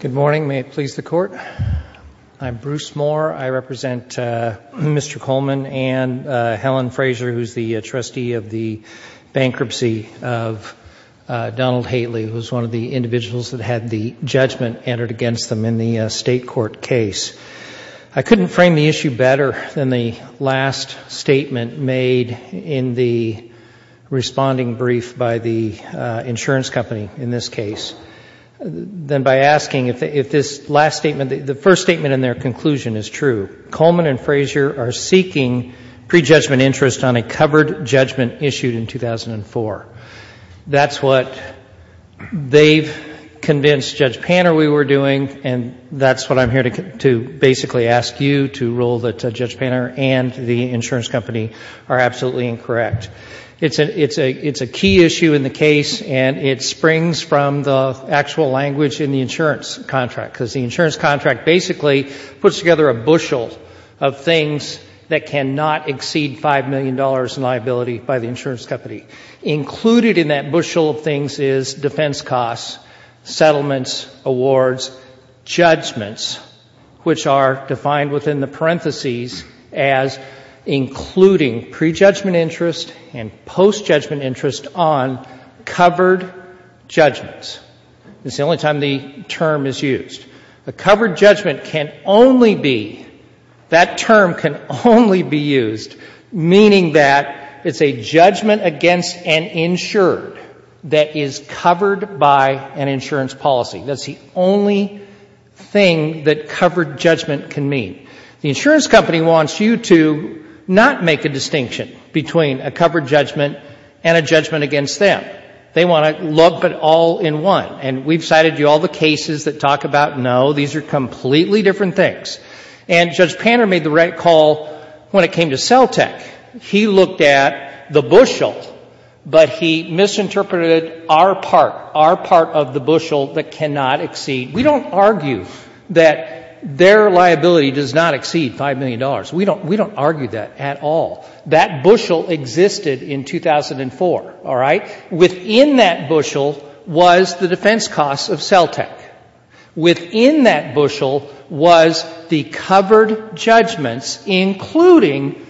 Good morning. May it please the Court. I'm Bruce Moore. I represent Mr. Kollman and Helen Frazier, who's the trustee of the bankruptcy of Donald Haley, who was one of the individuals that had the judgment entered against them in the state court case. I couldn't frame the issue better than the last statement made in the responding brief by the insurance company in this case than by asking if this last statement, the first statement in their conclusion is true. Mr. Kollman and Frazier are seeking prejudgment interest on a covered judgment issued in 2004. That's what they've convinced Judge Panner we were doing, and that's what I'm here to basically ask you to rule that Judge Panner and the insurance company are absolutely incorrect. It's a key issue in the case, and it springs from the actual language in the insurance contract, because the insurance contract basically puts together a bushel of things that cannot exceed $5 million in liability by the insurance company. Included in that bushel of things is defense costs, settlements, awards, judgments, which are defined within the parentheses as including prejudgment interest and postjudgment interest on covered judgments. It's the only time the term is used. A covered judgment can only be, that term can only be used meaning that it's a judgment against an insured that is covered by an insurance policy. That's the only thing that covered judgment can mean. The insurance company wants you to not make a distinction between a covered judgment and a judgment against them. They want to look but all in one. And we've cited you all the cases that talk about, no, these are completely different things. And Judge Panner made the right call when it came to CELTEC. He looked at the bushel, but he misinterpreted our part, our part of the bushel that cannot exceed. We don't argue that their liability does not exceed $5 million. We don't argue that at all. That bushel existed in 2004, all right? Within that bushel was the defense costs of CELTEC. Within that bushel was the covered judgments, including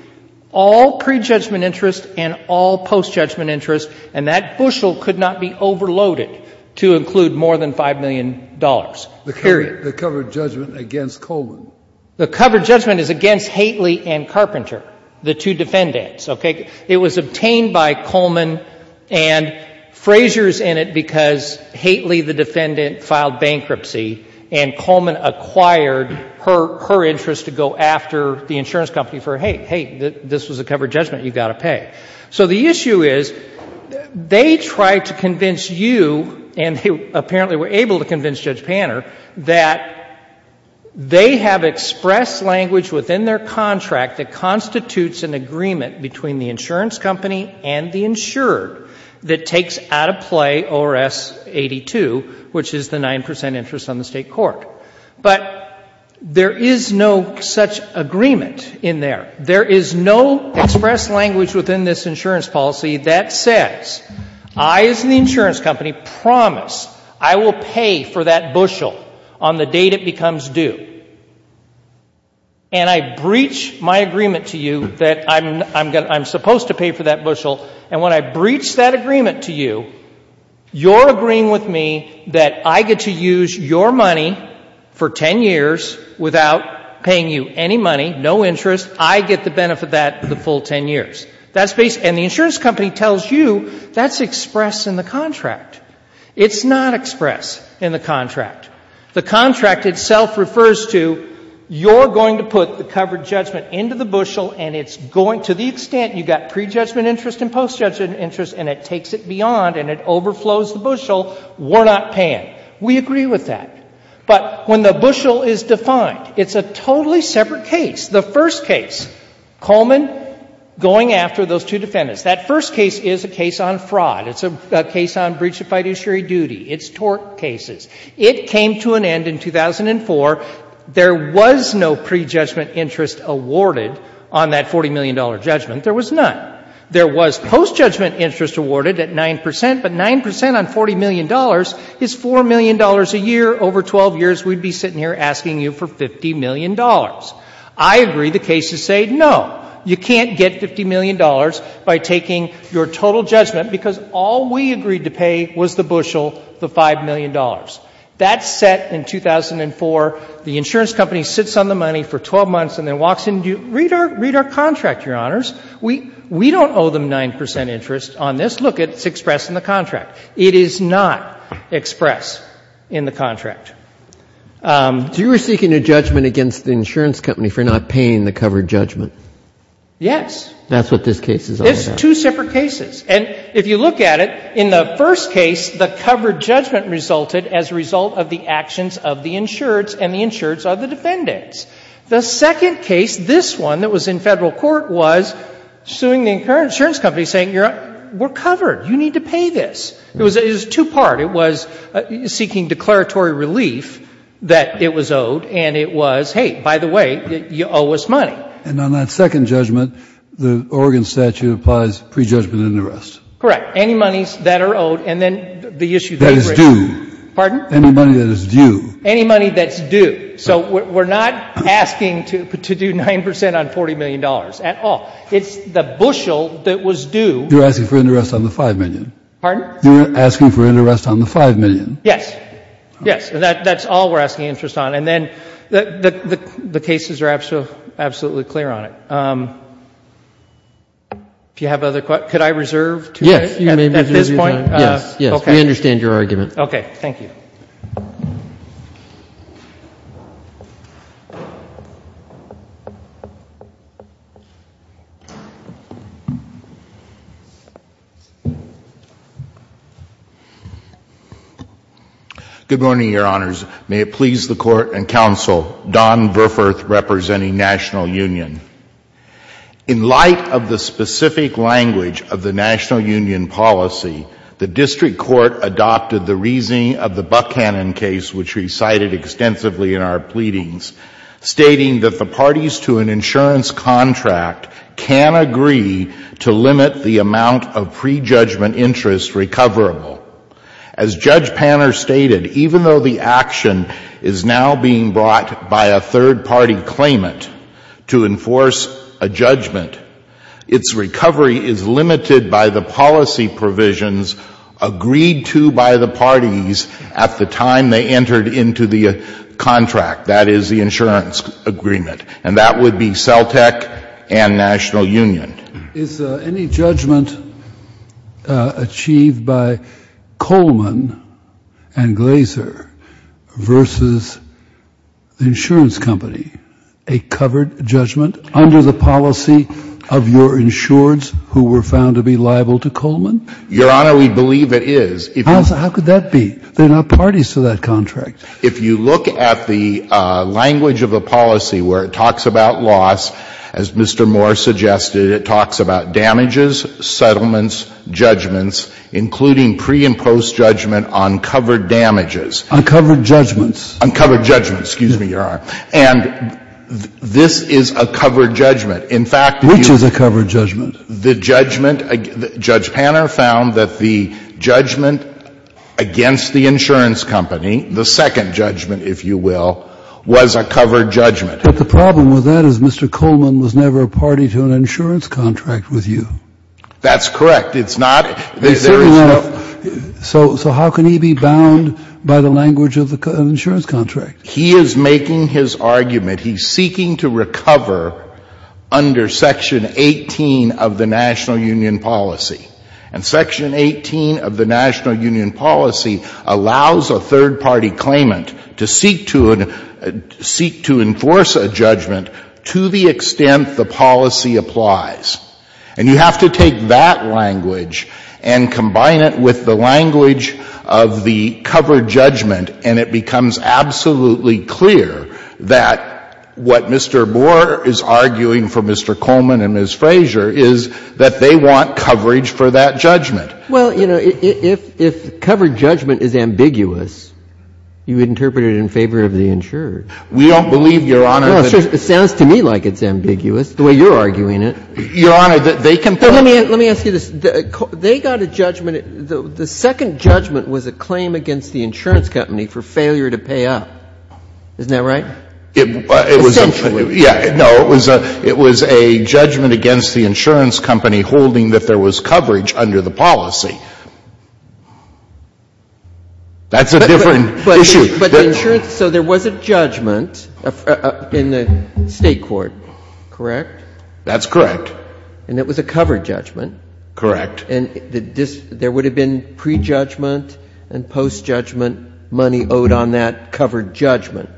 all prejudgment interest and all postjudgment interest, and that bushel could not be overloaded to include more than $5 million, period. The covered judgment against Coleman. The covered judgment is against Haitley and Carpenter, the two defendants, okay? It was obtained by Coleman and Frazier's in it because Haitley, the defendant, filed bankruptcy and Coleman acquired her interest to go after the insurance company for, hey, hey, this was a covered judgment, you've got to pay. So the issue is they tried to convince you, and they apparently were able to convince Judge Panner, that they have expressed language within their contract that constitutes an agreement between the insurance company and the insurer that takes out of play ORS 82, which is the 9 percent interest on the State court. But there is no such agreement in there. There is no expressed language within this insurance policy that says I, as the insurance company, promise I will pay for that bushel on the date it becomes due. And I breach my agreement to you that I'm supposed to pay for that bushel, and when I breach that agreement to you, you're agreeing with me that I get to use your money for 10 years without paying you any money, no interest, I get the benefit of that the full 10 years. And the insurance company tells you that's expressed in the contract. It's not expressed in the contract. The contract itself refers to you're going to put the covered judgment into the bushel and it's going to the extent you've got prejudgment interest and postjudgment interest and it takes it beyond and it overflows the bushel, we're not paying. We agree with that. But when the bushel is defined, it's a totally separate case. The first case, Coleman going after those two defendants. That first case is a case on fraud. It's a case on breach of fiduciary duty. It's tort cases. It came to an end in 2004. There was no prejudgment interest awarded on that $40 million judgment. There was none. There was postjudgment interest awarded at 9%, but 9% on $40 million is $4 million a year over 12 years. We'd be sitting here asking you for $50 million. I agree the cases say no, you can't get $50 million by taking your total judgment because all we agreed to pay was the bushel, the $5 million. That's set in 2004. The insurance company sits on the money for 12 months and then walks in, read our contract, Your Honors. We don't owe them 9% interest on this. Look, it's expressed in the contract. It is not expressed in the contract. So you were seeking a judgment against the insurance company for not paying the covered judgment? Yes. That's what this case is all about. It's two separate cases. And if you look at it, in the first case, the covered judgment resulted as a result of the actions of the insureds and the insureds of the defendants. The second case, this one that was in Federal court, was suing the insurance company, saying we're covered. You need to pay this. It was two-part. It was seeking declaratory relief that it was owed, and it was, hey, by the way, you owe us money. And on that second judgment, the Oregon statute applies prejudgment and arrest. Correct. Any monies that are owed, and then the issue that is due. Pardon? Any money that is due. Any money that's due. So we're not asking to do 9% on $40 million at all. It's the bushel that was due. You're asking for an arrest on the $5 million. Pardon? You're asking for an arrest on the $5 million. Yes. Yes. And that's all we're asking interest on. And then the cases are absolutely clear on it. If you have other questions, could I reserve to you at this point? Yes. You may reserve your time. Yes. We understand your argument. Okay. Thank you. Thank you. Good morning, Your Honors. May it please the Court and Counsel, Don Burforth representing National Union. In light of the specific language of the National Union policy, the district court adopted the reasoning of the Buckhannon case, which we cited extensively in our pleadings, stating that the parties to an insurance contract can agree to limit the amount of prejudgment interest recoverable. As Judge Panner stated, even though the action is now being brought by a third-party claimant to enforce a judgment, its recovery is limited by the policy provisions agreed to by the parties at the time they entered into the contract. That is the insurance agreement. And that would be CELTEC and National Union. Is any judgment achieved by Coleman and Glaser versus the insurance company a covered judgment under the policy of your insureds who were found to be liable to Coleman? Your Honor, we believe it is. How could that be? There are no parties to that contract. If you look at the language of the policy where it talks about loss, as Mr. Moore suggested, it talks about damages, settlements, judgments, including pre and post judgment on covered damages. On covered judgments. On covered judgments. Excuse me, Your Honor. And this is a covered judgment. In fact, if you look at the judgment. Which is a covered judgment? The second judgment, if you will, was a covered judgment. But the problem with that is Mr. Coleman was never a party to an insurance contract with you. That's correct. It's not. So how can he be bound by the language of an insurance contract? He is making his argument. He's seeking to recover under Section 18 of the National Union policy. And Section 18 of the National Union policy allows a third-party claimant to seek to enforce a judgment to the extent the policy applies. And you have to take that language and combine it with the language of the covered judgment, and it becomes absolutely clear that what Mr. Moore is arguing for Mr. Coleman and Ms. Frazier is that they want coverage for that judgment. Well, you know, if covered judgment is ambiguous, you would interpret it in favor of the insured. We don't believe, Your Honor. It sounds to me like it's ambiguous, the way you're arguing it. Your Honor, they can both. Let me ask you this. They got a judgment. The second judgment was a claim against the insurance company for failure to pay up. Isn't that right? Essentially. Yeah. No, it was a judgment against the insurance company holding that there was coverage under the policy. That's a different issue. But the insurance so there was a judgment in the State court, correct? That's correct. And it was a covered judgment? Correct. And there would have been prejudgment and post-judgment money owed on that covered judgment?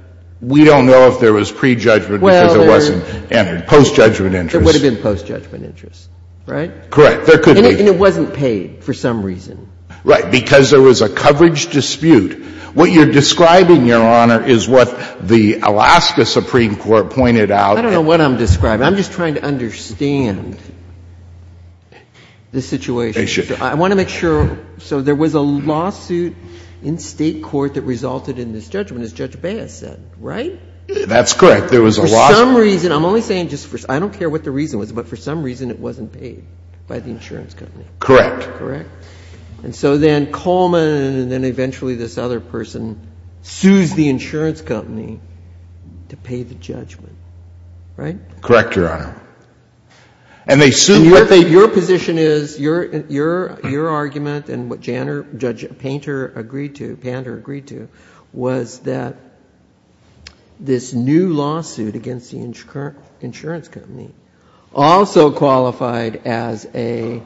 We don't know if there was prejudgment because it wasn't entered. Post-judgment interest. There would have been post-judgment interest, right? Correct. There could be. And it wasn't paid for some reason. Right. Because there was a coverage dispute. What you're describing, Your Honor, is what the Alaska Supreme Court pointed out. I don't know what I'm describing. I'm just trying to understand the situation. I want to make sure. So there was a lawsuit in State court that resulted in this judgment. As Judge Baez said, right? That's correct. There was a lawsuit. For some reason. I'm only saying just for I don't care what the reason was, but for some reason it wasn't paid by the insurance company. Correct. Correct. And so then Coleman and then eventually this other person sues the insurance company to pay the judgment, right? Correct, Your Honor. And they sued. And your position is, your argument and what Judge Painter agreed to, Pander that this new lawsuit against the insurance company also qualified as a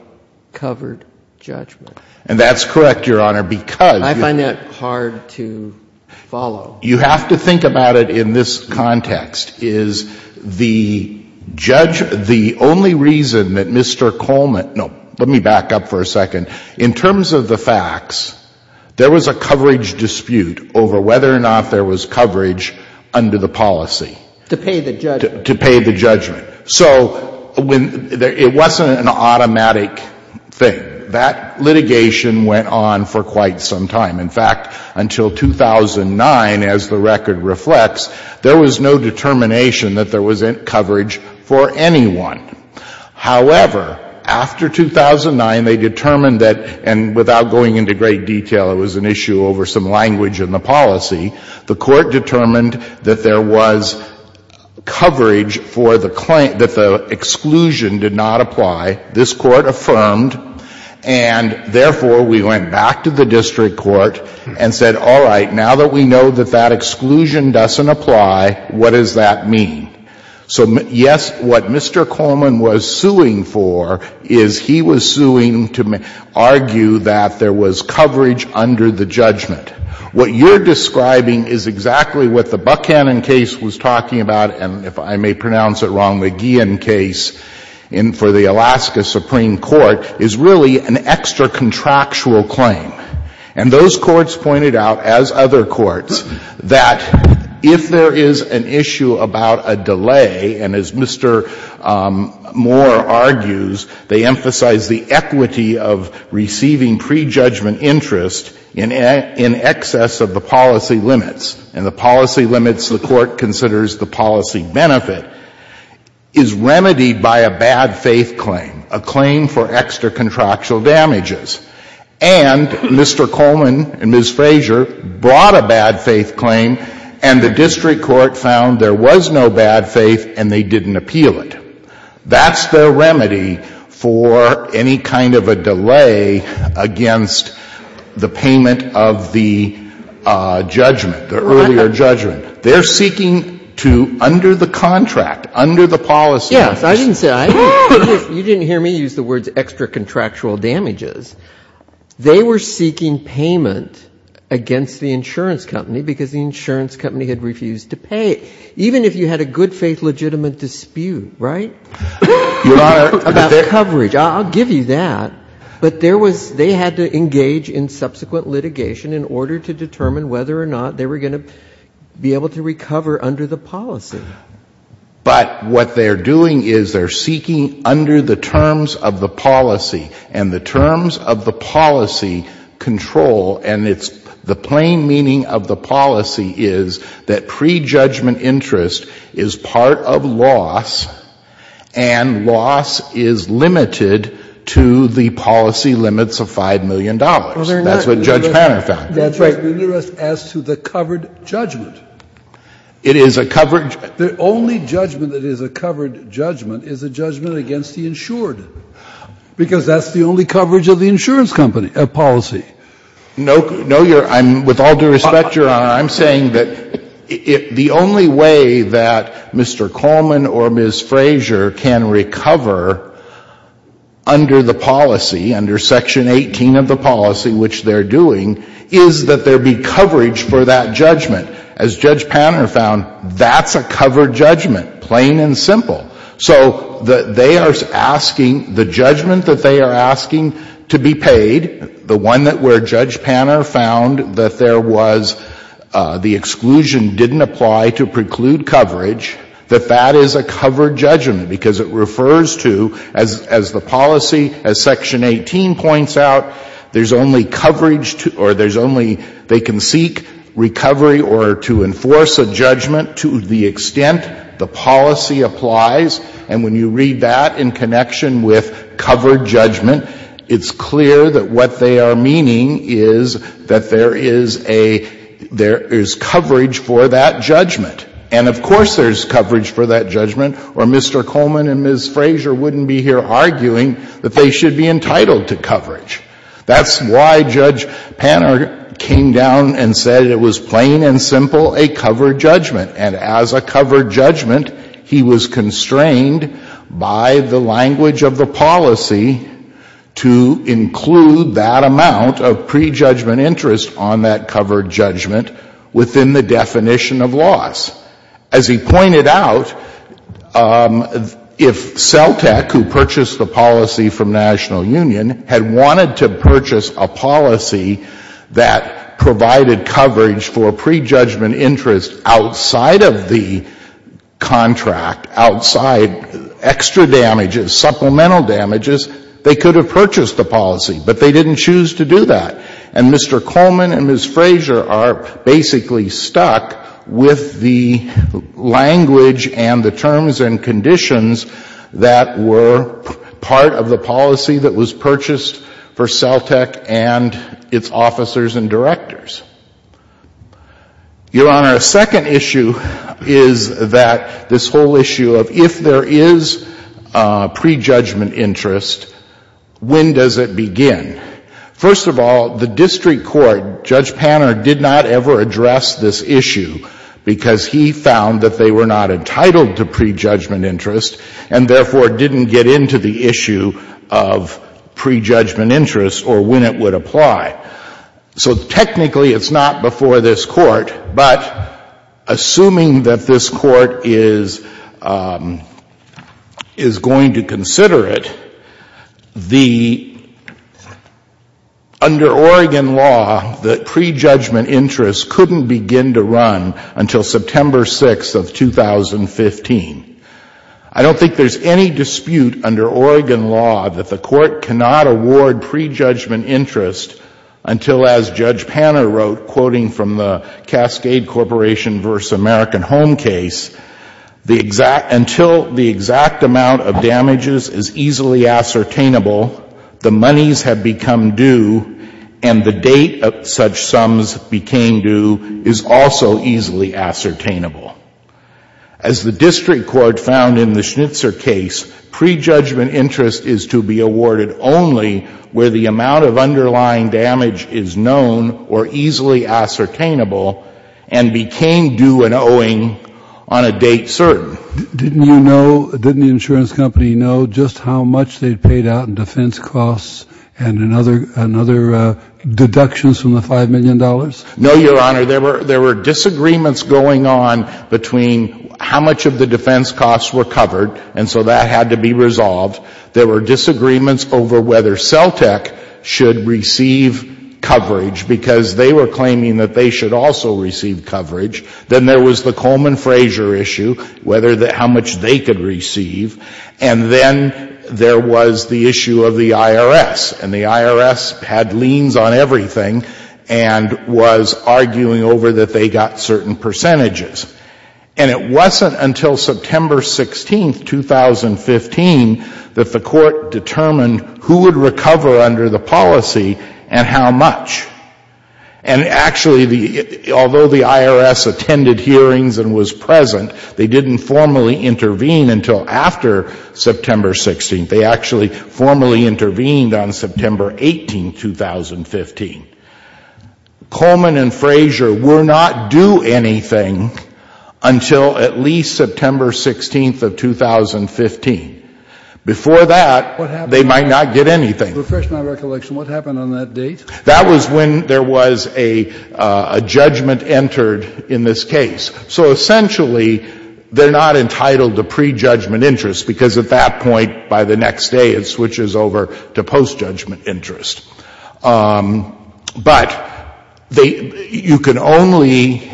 covered judgment? And that's correct, Your Honor, because I find that hard to follow. You have to think about it in this context. Is the judge, the only reason that Mr. Coleman, no, let me back up for a second. In terms of the facts, there was a coverage dispute over whether or not there was coverage under the policy. To pay the judgment. To pay the judgment. So it wasn't an automatic thing. That litigation went on for quite some time. In fact, until 2009, as the record reflects, there was no determination that there was coverage for anyone. However, after 2009, they determined that, and without going into great detail, it was an issue over some language in the policy, the Court determined that there was coverage for the client, that the exclusion did not apply. This Court affirmed. And therefore, we went back to the district court and said, all right, now that we know that that exclusion doesn't apply, what does that mean? So, yes, what Mr. Coleman was suing for is he was suing to argue that there was coverage under the judgment. What you're describing is exactly what the Buckhannon case was talking about, and if I may pronounce it wrong, the Guillen case for the Alaska Supreme Court, is really an extra-contractual claim. And those courts pointed out, as other courts, that if there is an issue about a judgment delay, and as Mr. Moore argues, they emphasize the equity of receiving prejudgment interest in excess of the policy limits, and the policy limits, the Court considers the policy benefit, is remedied by a bad-faith claim, a claim for extra-contractual damages. And Mr. Coleman and Ms. Frazier brought a bad-faith claim, and the district court found there was no bad faith and they didn't appeal it. That's the remedy for any kind of a delay against the payment of the judgment, the earlier judgment. They're seeking to, under the contract, under the policy limits. Yes. I didn't say that. You didn't hear me use the words extra-contractual damages. They were seeking payment against the insurance company because the insurance company had refused to pay, even if you had a good-faith legitimate dispute, right, about coverage. I'll give you that. But there was they had to engage in subsequent litigation in order to determine whether or not they were going to be able to recover under the policy. But what they're doing is they're seeking under the terms of the policy, and the terms of the policy control, and it's the plain meaning of the policy is that prejudgment interest is part of loss, and loss is limited to the policy limits of $5 million. That's what Judge Panner found. That's right. But they're not interested as to the covered judgment. It is a covered judgment. The only judgment that is a covered judgment is a judgment against the insured, because that's the only coverage of the insurance policy. No, Your Honor. With all due respect, Your Honor, I'm saying that the only way that Mr. Coleman or Ms. Frazier can recover under the policy, under Section 18 of the policy, which they're doing, is that there be coverage for that judgment. As Judge Panner found, that's a covered judgment, plain and simple. So they are asking, the judgment that they are asking to be paid, the one that where Judge Panner found that there was the exclusion didn't apply to preclude coverage, that that is a covered judgment, because it refers to, as the policy, as Section 18 points out, there's only coverage to, or there's only, they can seek recovery or to enforce a judgment to the extent the policy applies. And when you read that in connection with covered judgment, it's clear that what they are meaning is that there is a, there is coverage for that judgment. And of course there's coverage for that judgment, or Mr. Coleman and Ms. Frazier wouldn't be here arguing that they should be entitled to coverage. That's why Judge Panner came down and said it was plain and simple a covered judgment. And as a covered judgment, he was constrained by the language of the policy to include that amount of prejudgment interest on that covered judgment within the definition of loss. As he pointed out, if CELTEC, who purchased the policy from National Union, had wanted to purchase a policy that provided coverage for prejudgment interest outside of the contract, outside extra damages, supplemental damages, they could have purchased the policy. But they didn't choose to do that. And Mr. Coleman and Ms. Frazier are basically stuck with the language and the terms and conditions that were part of the policy that was purchased for CELTEC and its officers and directors. Your Honor, a second issue is that this whole issue of if there is prejudgment interest, when does it begin? First of all, the district court, Judge Panner did not ever address this issue because he found that they were not entitled to prejudgment interest and therefore didn't get into the issue of prejudgment interest or when it would apply. So technically it's not before this Court, but assuming that this Court is going to consider it, the under Oregon law, the prejudgment interest couldn't begin to run until September 6th of 2015. I don't think there's any dispute under Oregon law that the Court cannot award prejudgment interest until, as Judge Panner wrote, quoting from the Cascade Corporation v. American Home case, until the exact amount of damages is easily ascertainable, the monies have become due and the date such sums became due is also easily ascertainable. As the district court found in the Schnitzer case, prejudgment interest is to be awarded only where the amount of underlying damage is known or easily ascertainable and became due and owing on a date certain. Didn't you know, didn't the insurance company know just how much they paid out in defense costs and in other deductions from the $5 million? No, Your Honor. There were disagreements going on between how much of the defense costs were covered and so that had to be resolved. There were disagreements over whether CELTEC should receive coverage because they were claiming that they should also receive coverage. Then there was the Coleman-Fraser issue, whether how much they could receive. And then there was the issue of the IRS, and the IRS had liens on everything. And was arguing over that they got certain percentages. And it wasn't until September 16th, 2015, that the court determined who would recover under the policy and how much. And actually, although the IRS attended hearings and was present, they didn't formally intervene until after September 16th. They actually formally intervened on September 18th, 2015. Coleman and Fraser were not due anything until at least September 16th of 2015. Before that, they might not get anything. Refresh my recollection. What happened on that date? That was when there was a judgment entered in this case. So essentially, they're not entitled to prejudgment interest because at that point, by the next day, it switches over to postjudgment interest. But you can only,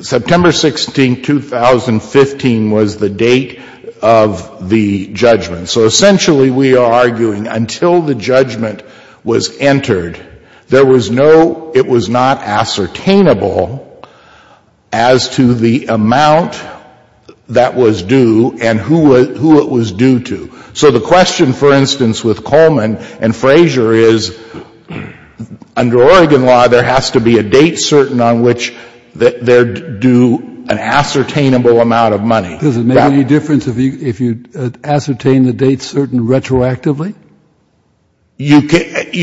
September 16th, 2015 was the date of the judgment. So essentially, we are arguing until the judgment was entered, there was no, it was not ascertainable as to the amount that was due and who it was due to. So the question, for instance, with Coleman and Fraser is, under Oregon law, there has to be a date certain on which they're due an ascertainable amount of money. Does it make any difference if you ascertain the date certain retroactively? You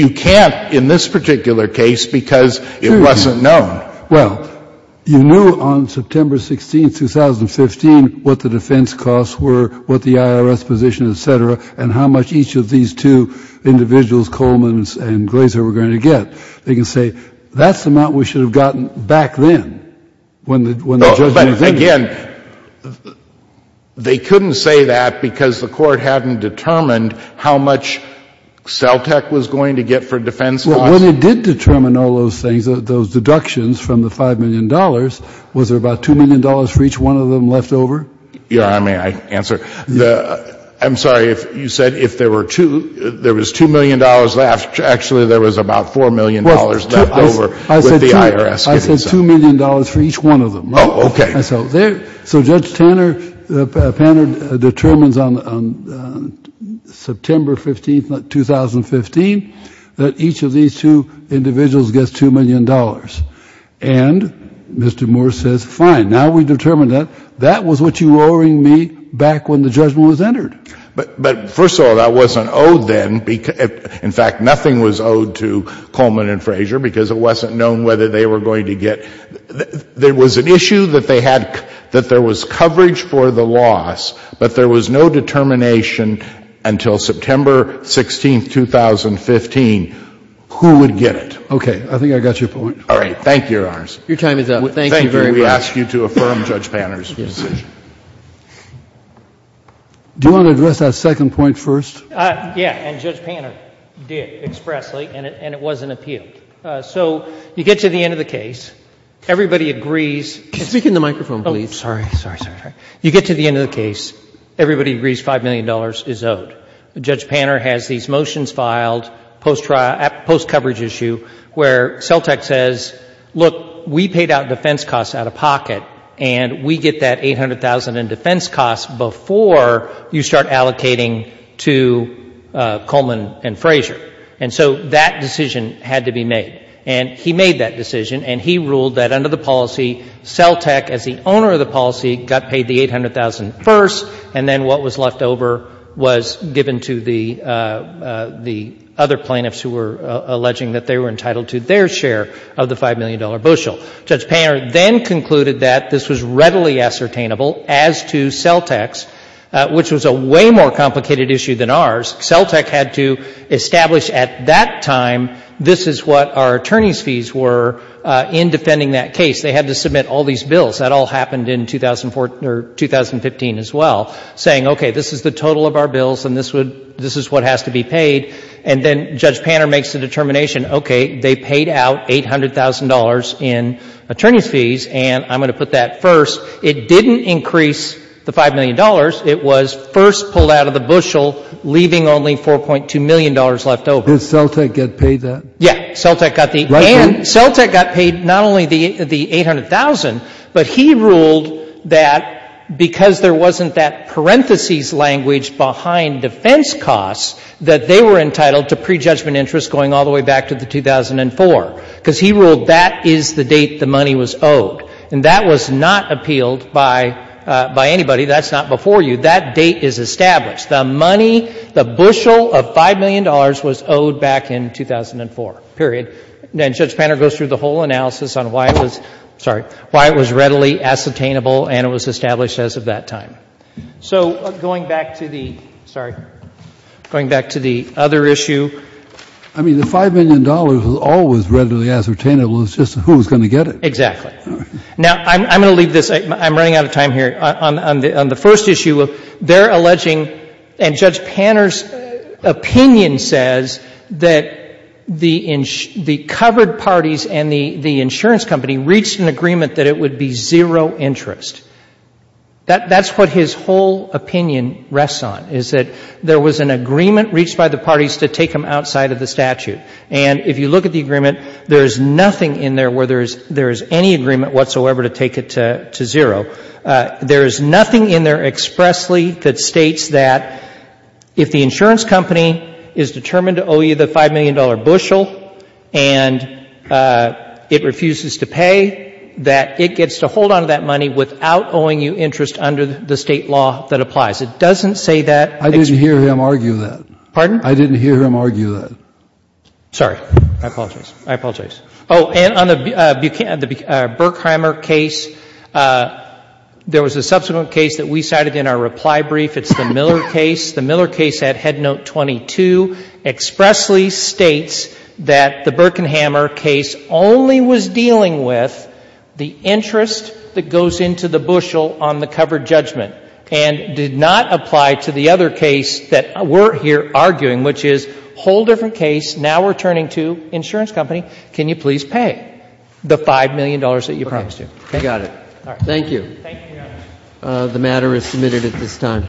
can't in this particular case because it wasn't known. Well, you knew on September 16th, 2015, what the defense costs were, what the IRS position, et cetera, and how much each of these two individuals, Coleman and Fraser, were going to get. They can say, that's the amount we should have gotten back then when the judgment was entered. But again, they couldn't say that because the Court hadn't determined how much CELTEC was going to get for defense costs. When it did determine all those things, those deductions from the $5 million, was there about $2 million for each one of them left over? Your Honor, may I answer? I'm sorry. You said if there were two, there was $2 million left. Actually, there was about $4 million left over with the IRS. I said $2 million for each one of them. Oh, okay. So Judge Tanner determines on September 15th, 2015, that each of these two individuals gets $2 million. And Mr. Moore says, fine, now we've determined that. That was what you were owing me back when the judgment was entered. But first of all, that wasn't owed then. In fact, nothing was owed to Coleman and Fraser because it wasn't known whether they were going to get. There was an issue that they had, that there was coverage for the loss, but there was no determination until September 16th, 2015. Who would get it? Okay. I think I got your point. All right. Thank you, Your Honors. Your time is up. Thank you very much. Thank you. We ask you to affirm Judge Tanner's decision. Do you want to address that second point first? Yeah. And Judge Tanner did expressly, and it was an appeal. Okay. So you get to the end of the case. Everybody agrees... Speak in the microphone, please. Oh, sorry. Sorry. Sorry. You get to the end of the case. Everybody agrees $5 million is owed. Judge Tanner has these motions filed post coverage issue where CELTEC says, look, we paid out defense costs out of pocket and we get that $800,000 in defense costs before you start allocating to Coleman and Fraser. And so that decision had to be made. And he made that decision and he ruled that under the policy, CELTEC as the owner of the policy got paid the $800,000 first and then what was left over was given to the other plaintiffs who were alleging that they were entitled to their share of the $5 million bushel. Judge Tanner then concluded that this was readily ascertainable as to CELTEC's, which was a way more complicated issue than ours. CELTEC had to establish at that time this is what our attorney's fees were in defending that case. They had to submit all these bills. That all happened in 2014 or 2015 as well, saying, okay, this is the total of our bills and this is what has to be paid. And then Judge Tanner makes the determination, okay, they paid out $800,000 in attorney's fees and I'm going to put that first. It didn't increase the $5 million. It was first pulled out of the bushel, leaving only $4.2 million left over. Did CELTEC get paid that? Yeah. CELTEC got the and CELTEC got paid not only the 800,000, but he ruled that because there wasn't that parentheses language behind defense costs, that they were entitled to prejudgment interest going all the way back to the 2004. Because he ruled that is the date the money was owed. And that was not appealed by anybody. That's not before you. That date is established. The money, the bushel of $5 million was owed back in 2004, period. And Judge Tanner goes through the whole analysis on why it was, sorry, why it was readily ascertainable and it was established as of that time. So going back to the, sorry, going back to the other issue. I mean, the $5 million was always readily ascertainable. It was just who was going to get it. Exactly. Now, I'm going to leave this. I'm running out of time here. On the first issue, they're alleging and Judge Tanner's opinion says that the covered parties and the insurance company reached an agreement that it would be zero interest. That's what his whole opinion rests on, is that there was an agreement reached by the parties to take them outside of the statute. And if you look at the agreement, there is nothing in there where there is any agreement whatsoever to take it to zero. There is nothing in there expressly that states that if the insurance company is determined to owe you the $5 million bushel and it refuses to pay, that it gets to hold onto that money without owing you interest under the State law that applies. It doesn't say that. I didn't hear him argue that. Pardon? I didn't hear him argue that. Sorry. I apologize. I apologize. Oh, and on the Burkheimer case, there was a subsequent case that we cited in our reply brief. It's the Miller case. The Miller case at Headnote 22 expressly states that the Birkenhamer case only was dealing with the interest that goes into the bushel on the covered judgment and did not apply to the other case that we're here arguing, which is a whole different case. Now we're turning to insurance company. Can you please pay the $5 million that you promised to? Okay. I got it. Thank you. Thank you, Your Honor. The matter is submitted at this time.